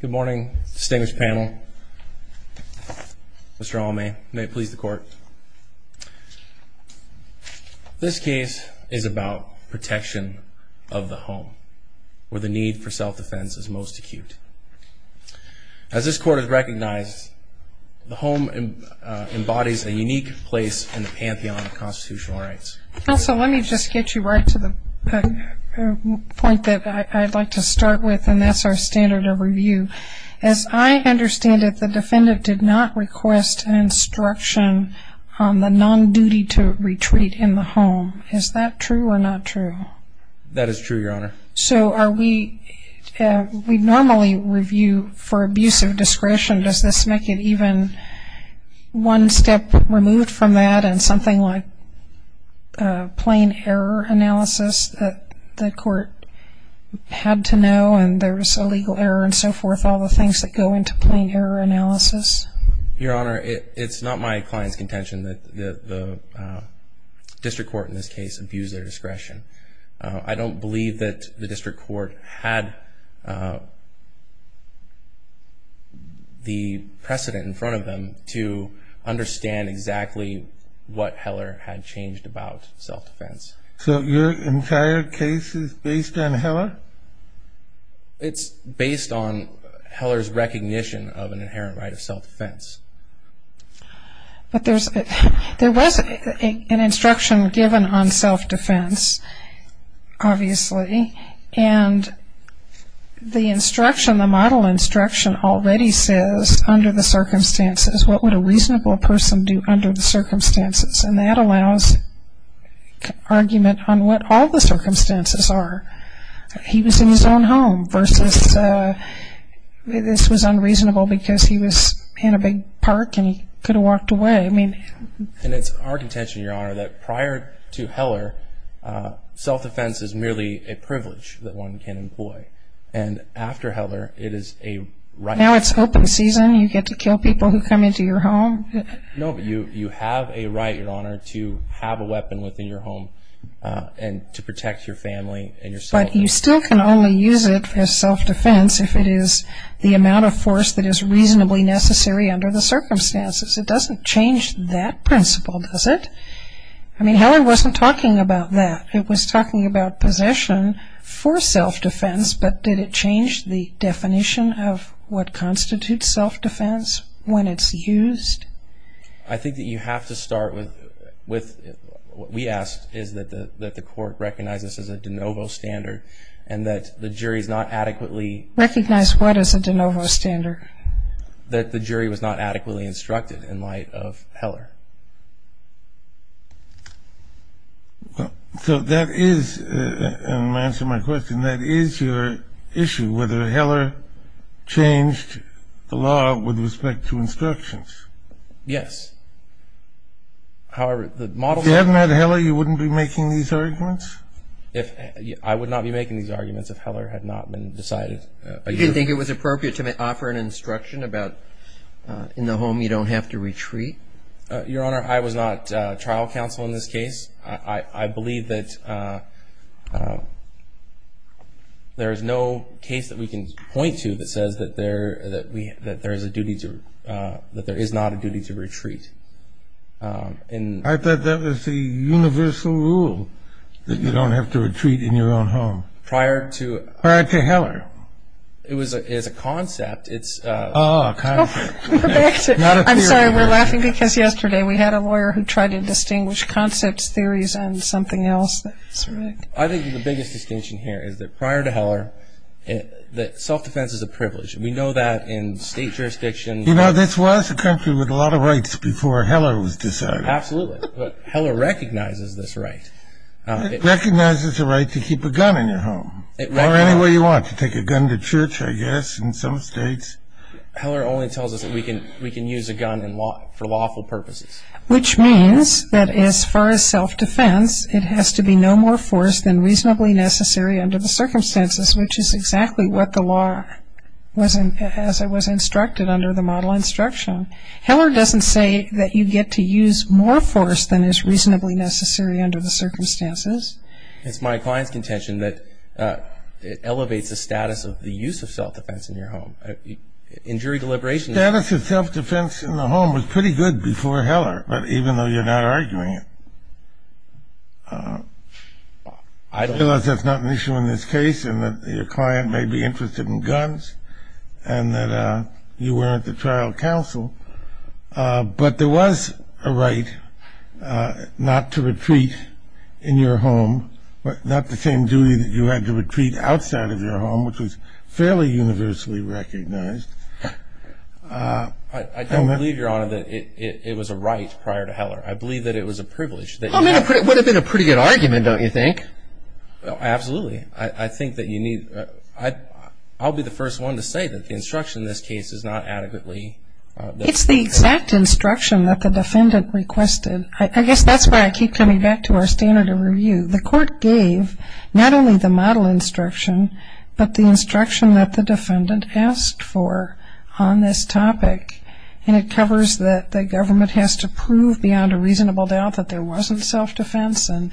Good morning, distinguished panel. Mr. Allmay, may it please the court. This case is about protection of the home, where the need for self-defense is most acute. As this court has recognized, the home embodies a unique place in the pantheon of constitutional rights. Counsel, let me just get you right to the point that I'd like to start with, and that's our standard of review. As I understand it, the defendant did not request an instruction on the non-duty to retreat in the home. Is that true or not true? That is true, Your Honor. So are we, we normally review for abuse of discretion. Does this make it even one step removed from that and something like plain error analysis that the court had to know and there was a legal error and so forth, all the things that go into plain error analysis? Your Honor, it's not my client's contention that the district court in this case abused their discretion. I don't believe that the district court had the precedent in front of them to understand exactly what Heller had changed about self-defense. So your entire case is based on Heller? It's based on Heller's recognition of an inherent right of self-defense. But there's, there was an instruction given on self-defense, obviously, and the instruction, the model instruction already says under the circumstances, what would a reasonable person do under the circumstances, and that allows argument on what all the circumstances are. He was in his own home versus, this was unreasonable because he was in a big park and he could have walked away. And it's our contention, Your Honor, that prior to Heller, self-defense is merely a privilege that one can employ. And after Heller, it is a right. Now it's open season. You get to kill people who come into your home. No, but you have a right, Your Honor, to have a weapon within your home and to protect your family and yourself. But you still can only use it for self-defense if it is the amount of force that is reasonably necessary under the circumstances. It doesn't change that principle, does it? I mean, Heller wasn't talking about that. It was talking about possession for self-defense, but did it change the definition of what constitutes self-defense when it's used? I think that you have to start with, what we ask is that the court recognize this as a de novo standard and that the jury is not adequately... Recognize what is a de novo standard? That the jury was not adequately instructed in light of Heller. So that is, and to answer my question, that is your issue, whether Heller changed the law with respect to instructions. Yes. However, the model... If you hadn't had Heller, you wouldn't be making these arguments? I would not be making these arguments if Heller had not been decided by you. You didn't think it was appropriate to offer an instruction about in the home you don't have to retreat? Your Honor, I was not trial counsel in this case. I believe that there is no case that we can point to that says that there is a duty to, that there is not a duty to retreat. I thought that was the universal rule, that you don't have to retreat in your own home. Prior to... Prior to Heller. It was a concept. Oh, a concept. I'm sorry, we're laughing because yesterday we had a lawyer who tried to distinguish concepts, theories, and something else. I think the biggest distinction here is that prior to Heller, self-defense is a privilege. We know that in state jurisdiction... You know, this was a country with a lot of rights before Heller was decided. Absolutely. But Heller recognizes this right. It recognizes the right to keep a gun in your home. Or anywhere you want, to take a gun to church, I guess, in some states. Heller only tells us that we can use a gun for lawful purposes. Which means that as far as self-defense, it has to be no more force than reasonably necessary under the circumstances, which is exactly what the law, as it was instructed under the model instruction. Heller doesn't say that you get to use more force than is reasonably necessary under the circumstances. It's my client's contention that it elevates the status of the use of self-defense in your home. In jury deliberation... The status of self-defense in the home was pretty good before Heller, even though you're not arguing it. Unless that's not an issue in this case and that your client may be interested in guns and that you weren't the trial counsel. But there was a right not to retreat in your home. Not the same duty that you had to retreat outside of your home, which was fairly universally recognized. I don't believe, Your Honor, that it was a right prior to Heller. I believe that it was a privilege. It would have been a pretty good argument, don't you think? Absolutely. I think that you need... I'll be the first one to say that the instruction in this case is not adequately... It's the exact instruction that the defendant requested. I guess that's why I keep coming back to our standard of review. The court gave not only the model instruction, but the instruction that the defendant asked for on this topic. And it covers that the government has to prove beyond a reasonable doubt that there wasn't self-defense and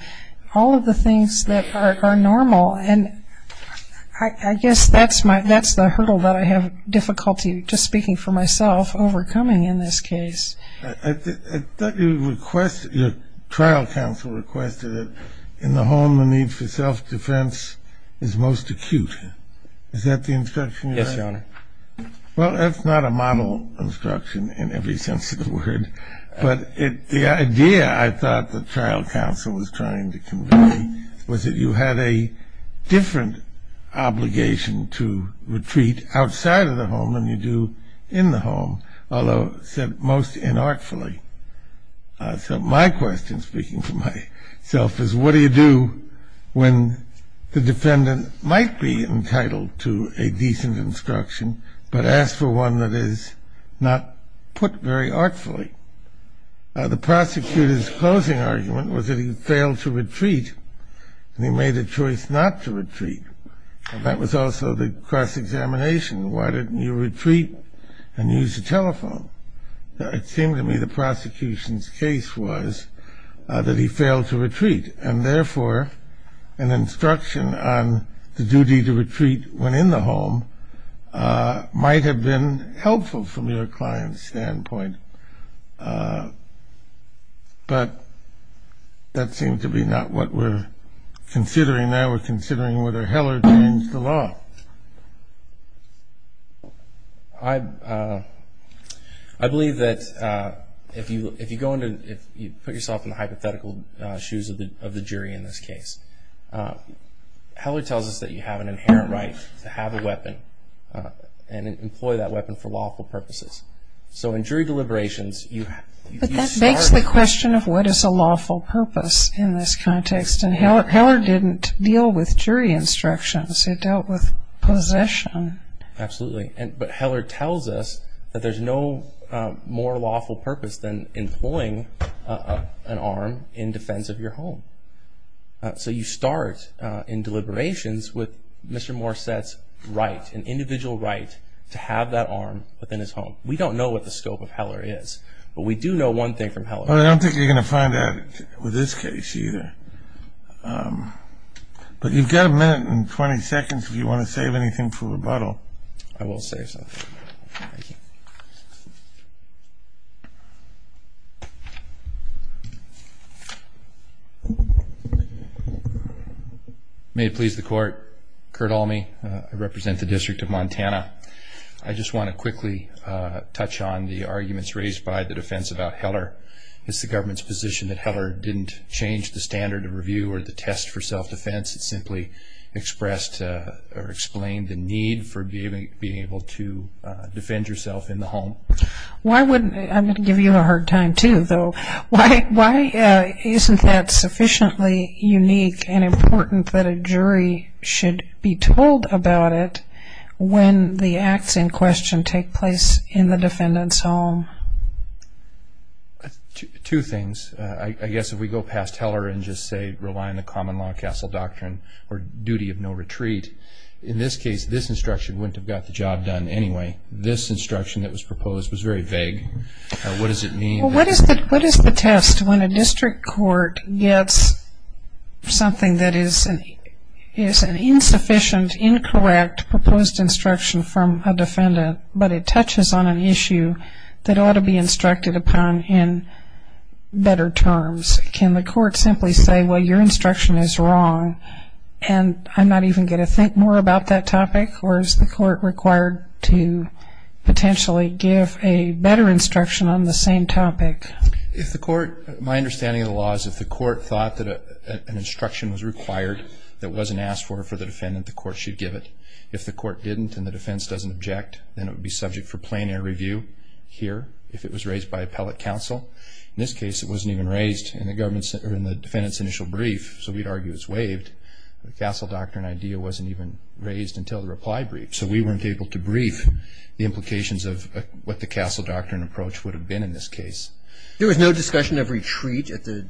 all of the things that are normal. And I guess that's the hurdle that I have difficulty, just speaking for myself, overcoming in this case. I thought your trial counsel requested that in the home the need for self-defense is most acute. Is that the instruction you had? Yes, Your Honor. Well, that's not a model instruction in every sense of the word. But the idea I thought the trial counsel was trying to convey was that you had a different obligation to retreat outside of the home than you do in the home, although said most inartfully. So my question, speaking for myself, is what do you do when the defendant might be entitled to a decent instruction, but asks for one that is not put very artfully? The prosecutor's closing argument was that he failed to retreat, and he made a choice not to retreat. And that was also the cross-examination. Why didn't you retreat and use the telephone? It seemed to me the prosecution's case was that he failed to retreat, and therefore an instruction on the duty to retreat when in the home might have been helpful from your client's standpoint. But that seemed to be not what we're considering now. We're considering whether Heller changed the law. I believe that if you put yourself in the hypothetical shoes of the jury in this case, Heller tells us that you have an inherent right to have a weapon and employ that weapon for lawful purposes. So in jury deliberations you start with that. But that begs the question of what is a lawful purpose in this context. And Heller didn't deal with jury instructions. He dealt with possession. Absolutely. But Heller tells us that there's no more lawful purpose than employing an arm in defense of your home. So you start in deliberations with Mr. Morset's right, an individual right to have that arm within his home. We don't know what the scope of Heller is, but we do know one thing from Heller. Well, I don't think you're going to find that with this case either. But you've got a minute and 20 seconds if you want to save anything for rebuttal. I will save something. May it please the Court. Kurt Alme, I represent the District of Montana. I just want to quickly touch on the arguments raised by the defense about Heller. It's the government's position that Heller didn't change the standard of review or the test for self-defense. It simply expressed or explained the need for being able to defend yourself in the home. I'm going to give you a hard time, too, though. Why isn't that sufficiently unique and important that a jury should be told about it when the acts in question take place in the defendant's home? Two things. I guess if we go past Heller and just say rely on the common law castle doctrine or duty of no retreat, in this case, this instruction wouldn't have got the job done anyway. This instruction that was proposed was very vague. What does it mean? Well, what is the test when a district court gets something that is an insufficient, incorrect proposed instruction from a defendant, but it touches on an issue that ought to be instructed upon in better terms? Can the court simply say, well, your instruction is wrong, and I'm not even going to think more about that topic? Or is the court required to potentially give a better instruction on the same topic? My understanding of the law is if the court thought that an instruction was required that wasn't asked for for the defendant, the court should give it. If the court didn't and the defense doesn't object, then it would be subject for plein air review here if it was raised by appellate counsel. In this case, it wasn't even raised in the defendant's initial brief, so we'd argue it's waived. The castle doctrine idea wasn't even raised until the reply brief, so we weren't able to brief the implications of what the castle doctrine approach would have been in this case. There was no discussion of retreat at the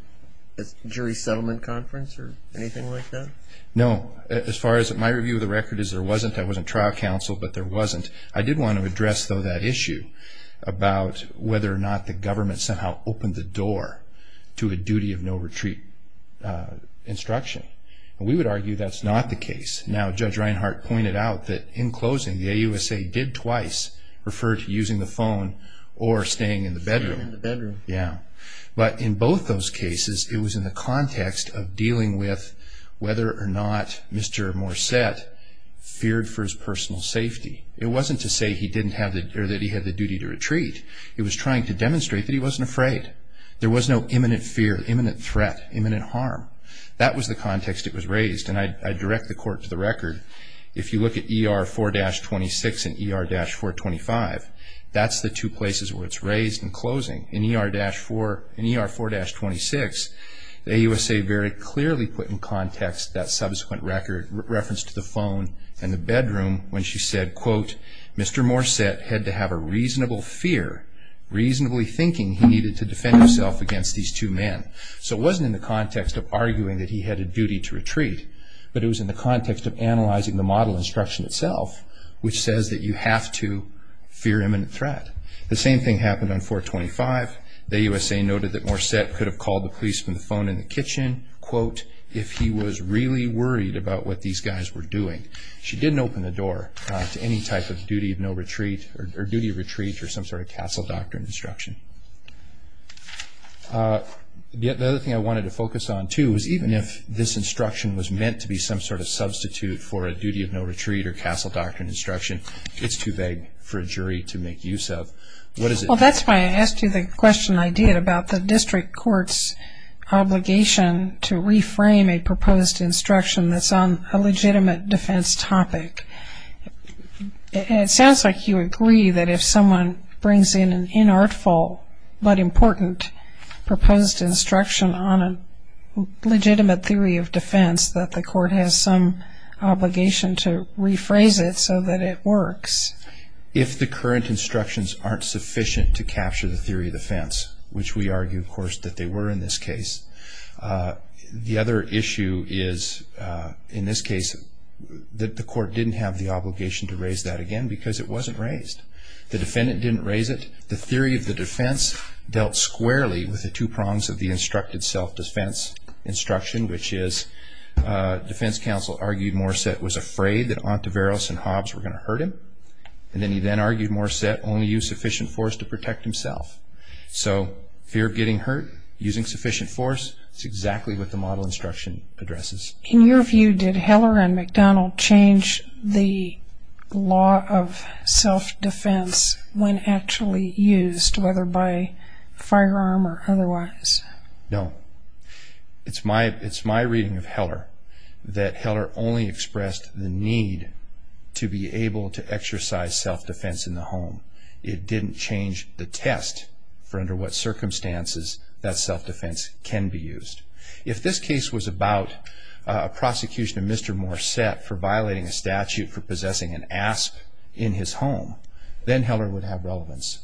jury settlement conference or anything like that? No. As far as my review of the record is, there wasn't. There wasn't trial counsel, but there wasn't. I did want to address, though, that issue about whether or not the government somehow opened the door to a duty of no retreat instruction. We would argue that's not the case. Now, Judge Reinhart pointed out that in closing, the AUSA did twice refer to using the phone or staying in the bedroom. In the bedroom. Yeah. But in both those cases, it was in the context of dealing with whether or not Mr. Morset feared for his personal safety. It wasn't to say that he had the duty to retreat. It was trying to demonstrate that he wasn't afraid. There was no imminent fear, imminent threat, imminent harm. That was the context it was raised, and I direct the court to the record. If you look at ER 4-26 and ER-425, that's the two places where it's raised in closing. In ER 4-26, the AUSA very clearly put in context that subsequent record, reference to the phone and the bedroom, when she said, Mr. Morset had to have a reasonable fear, reasonably thinking he needed to defend himself against these two men. So it wasn't in the context of arguing that he had a duty to retreat, but it was in the context of analyzing the model instruction itself, which says that you have to fear imminent threat. The same thing happened on 4-25. The AUSA noted that Morset could have called the police from the phone in the kitchen, quote, if he was really worried about what these guys were doing. She didn't open the door to any type of duty of retreat or some sort of castle doctrine instruction. The other thing I wanted to focus on, too, is even if this instruction was meant to be some sort of substitute for a duty of no retreat or castle doctrine instruction, it's too vague for a jury to make use of. Well, that's why I asked you the question I did about the district court's obligation to reframe a proposed instruction that's on a legitimate defense topic. It sounds like you agree that if someone brings in an inartful but important proposed instruction on a legitimate theory of defense that the court has some obligation to rephrase it so that it works. If the current instructions aren't sufficient to capture the theory of defense, which we argue, of course, that they were in this case. The other issue is, in this case, that the court didn't have the obligation to raise that again because it wasn't raised. The defendant didn't raise it. The theory of the defense dealt squarely with the two prongs of the instructed self-defense instruction, which is defense counsel argued Morissette was afraid that Ontiveros and Hobbs were going to hurt him, and then he then argued Morissette only used sufficient force to protect himself. So fear of getting hurt, using sufficient force, is exactly what the model instruction addresses. In your view, did Heller and McDonald change the law of self-defense when actually used, whether by firearm or otherwise? No. It's my reading of Heller that Heller only expressed the need to be able to exercise self-defense in the home. It didn't change the test for under what circumstances that self-defense can be used. If this case was about a prosecution of Mr. Morissette for violating a statute for possessing an asp in his home, then Heller would have relevance.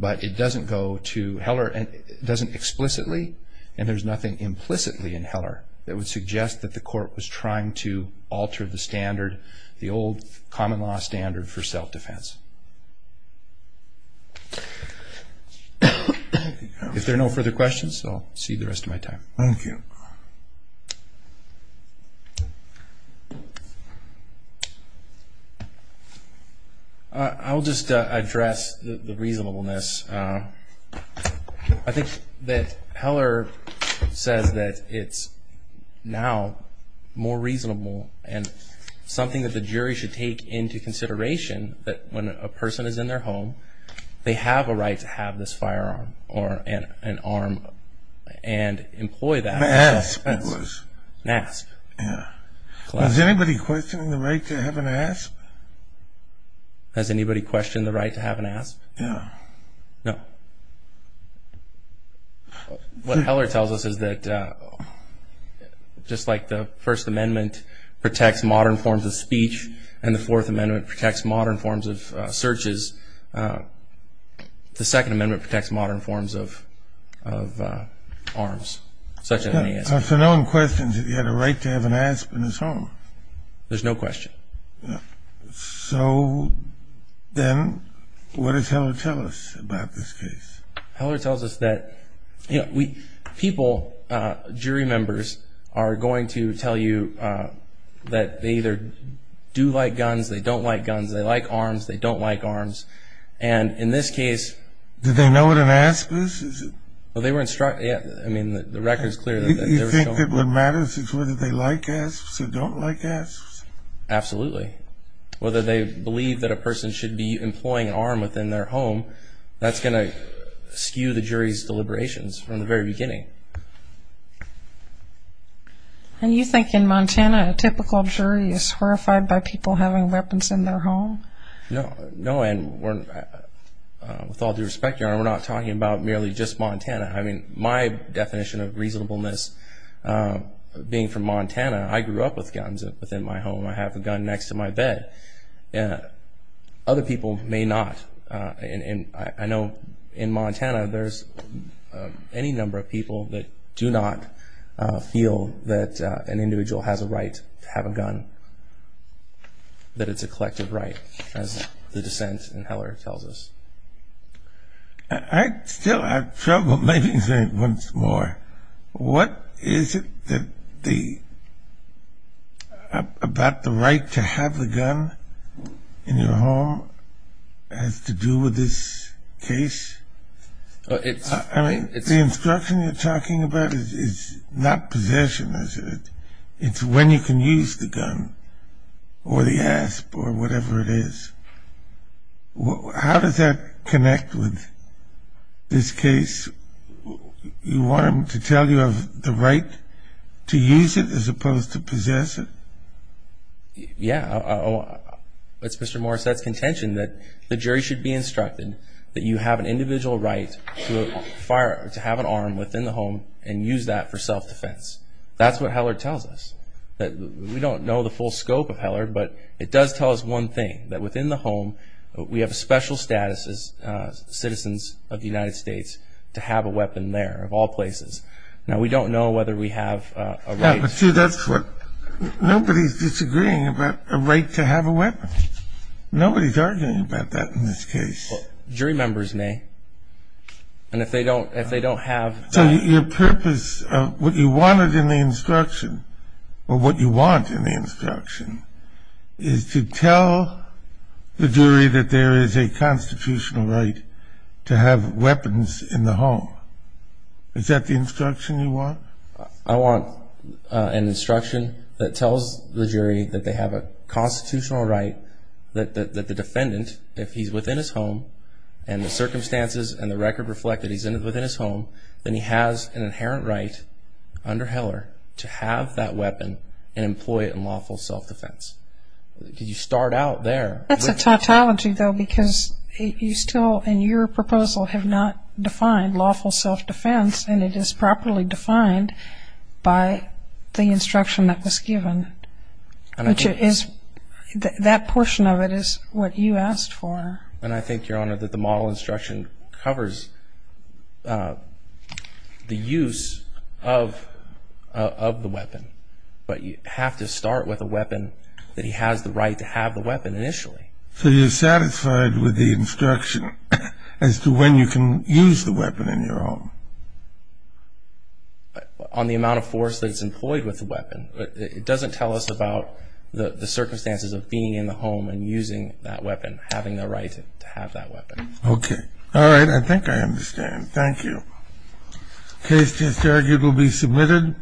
But it doesn't go to Heller, it doesn't explicitly, and there's nothing implicitly in Heller that would suggest that the court was trying to alter the standard, the old common law standard for self-defense. If there are no further questions, I'll cede the rest of my time. Thank you. I'll just address the reasonableness. I think that Heller says that it's now more reasonable and something that the jury should take into consideration that when a person is in their home, they have a right to have this firearm or an arm and employ that. An asp it was. An asp. Yeah. Has anybody questioned the right to have an asp? Has anybody questioned the right to have an asp? No. No. What Heller tells us is that just like the First Amendment protects modern forms of speech and the Fourth Amendment protects modern forms of searches, the Second Amendment protects modern forms of arms. I've said on questions that you had a right to have an asp in his home. There's no question. So then what does Heller tell us about this case? Heller tells us that people, jury members, are going to tell you that they either do like guns, they don't like guns, they like arms, they don't like arms. And in this case. Did they know what an asp is? Well, they were instructed. I mean, the record is clear. Do you think that what matters is whether they like asps or don't like asps? Absolutely. Whether they believe that a person should be employing an arm within their home, that's going to skew the jury's deliberations from the very beginning. And you think in Montana, a typical jury is horrified by people having weapons in their home? No. No, and with all due respect, Your Honor, we're not talking about merely just Montana. I mean, my definition of reasonableness being from Montana, I grew up with guns within my home. I have a gun next to my bed. Other people may not. I know in Montana there's any number of people that do not feel that an individual has a right to have a gun, that it's a collective right, as the dissent in Heller tells us. I still have trouble making sense once more. Your Honor, what is it about the right to have a gun in your home has to do with this case? I mean, the instruction you're talking about is not possession, is it? It's when you can use the gun or the asp or whatever it is. How does that connect with this case? You want him to tell you of the right to use it as opposed to possess it? Yeah. It's Mr. Morissette's contention that the jury should be instructed that you have an individual right to have an arm within the home and use that for self-defense. That's what Heller tells us. We don't know the full scope of Heller, but it does tell us one thing, that within the home we have a special status as citizens of the United States to have a weapon there, of all places. Now, we don't know whether we have a right. But, see, that's what nobody's disagreeing about, a right to have a weapon. Nobody's arguing about that in this case. Jury members may. And if they don't have that. So your purpose, what you wanted in the instruction, or what you want in the instruction, is to tell the jury that there is a constitutional right to have weapons in the home. Is that the instruction you want? I want an instruction that tells the jury that they have a constitutional right that the defendant, if he's within his home and the circumstances and the record reflect that he's within his home, then he has an inherent right under Heller to have that weapon and employ it in lawful self-defense. Did you start out there? That's a tautology, though, because you still, in your proposal, have not defined lawful self-defense, and it is properly defined by the instruction that was given. That portion of it is what you asked for. And I think, Your Honor, that the model instruction covers the use of the weapon. But you have to start with a weapon that he has the right to have the weapon initially. So you're satisfied with the instruction as to when you can use the weapon in your home? On the amount of force that's employed with the weapon. It doesn't tell us about the circumstances of being in the home and using that weapon, having the right to have that weapon. Okay. All right. I think I understand. Thank you. The case is to be submitted.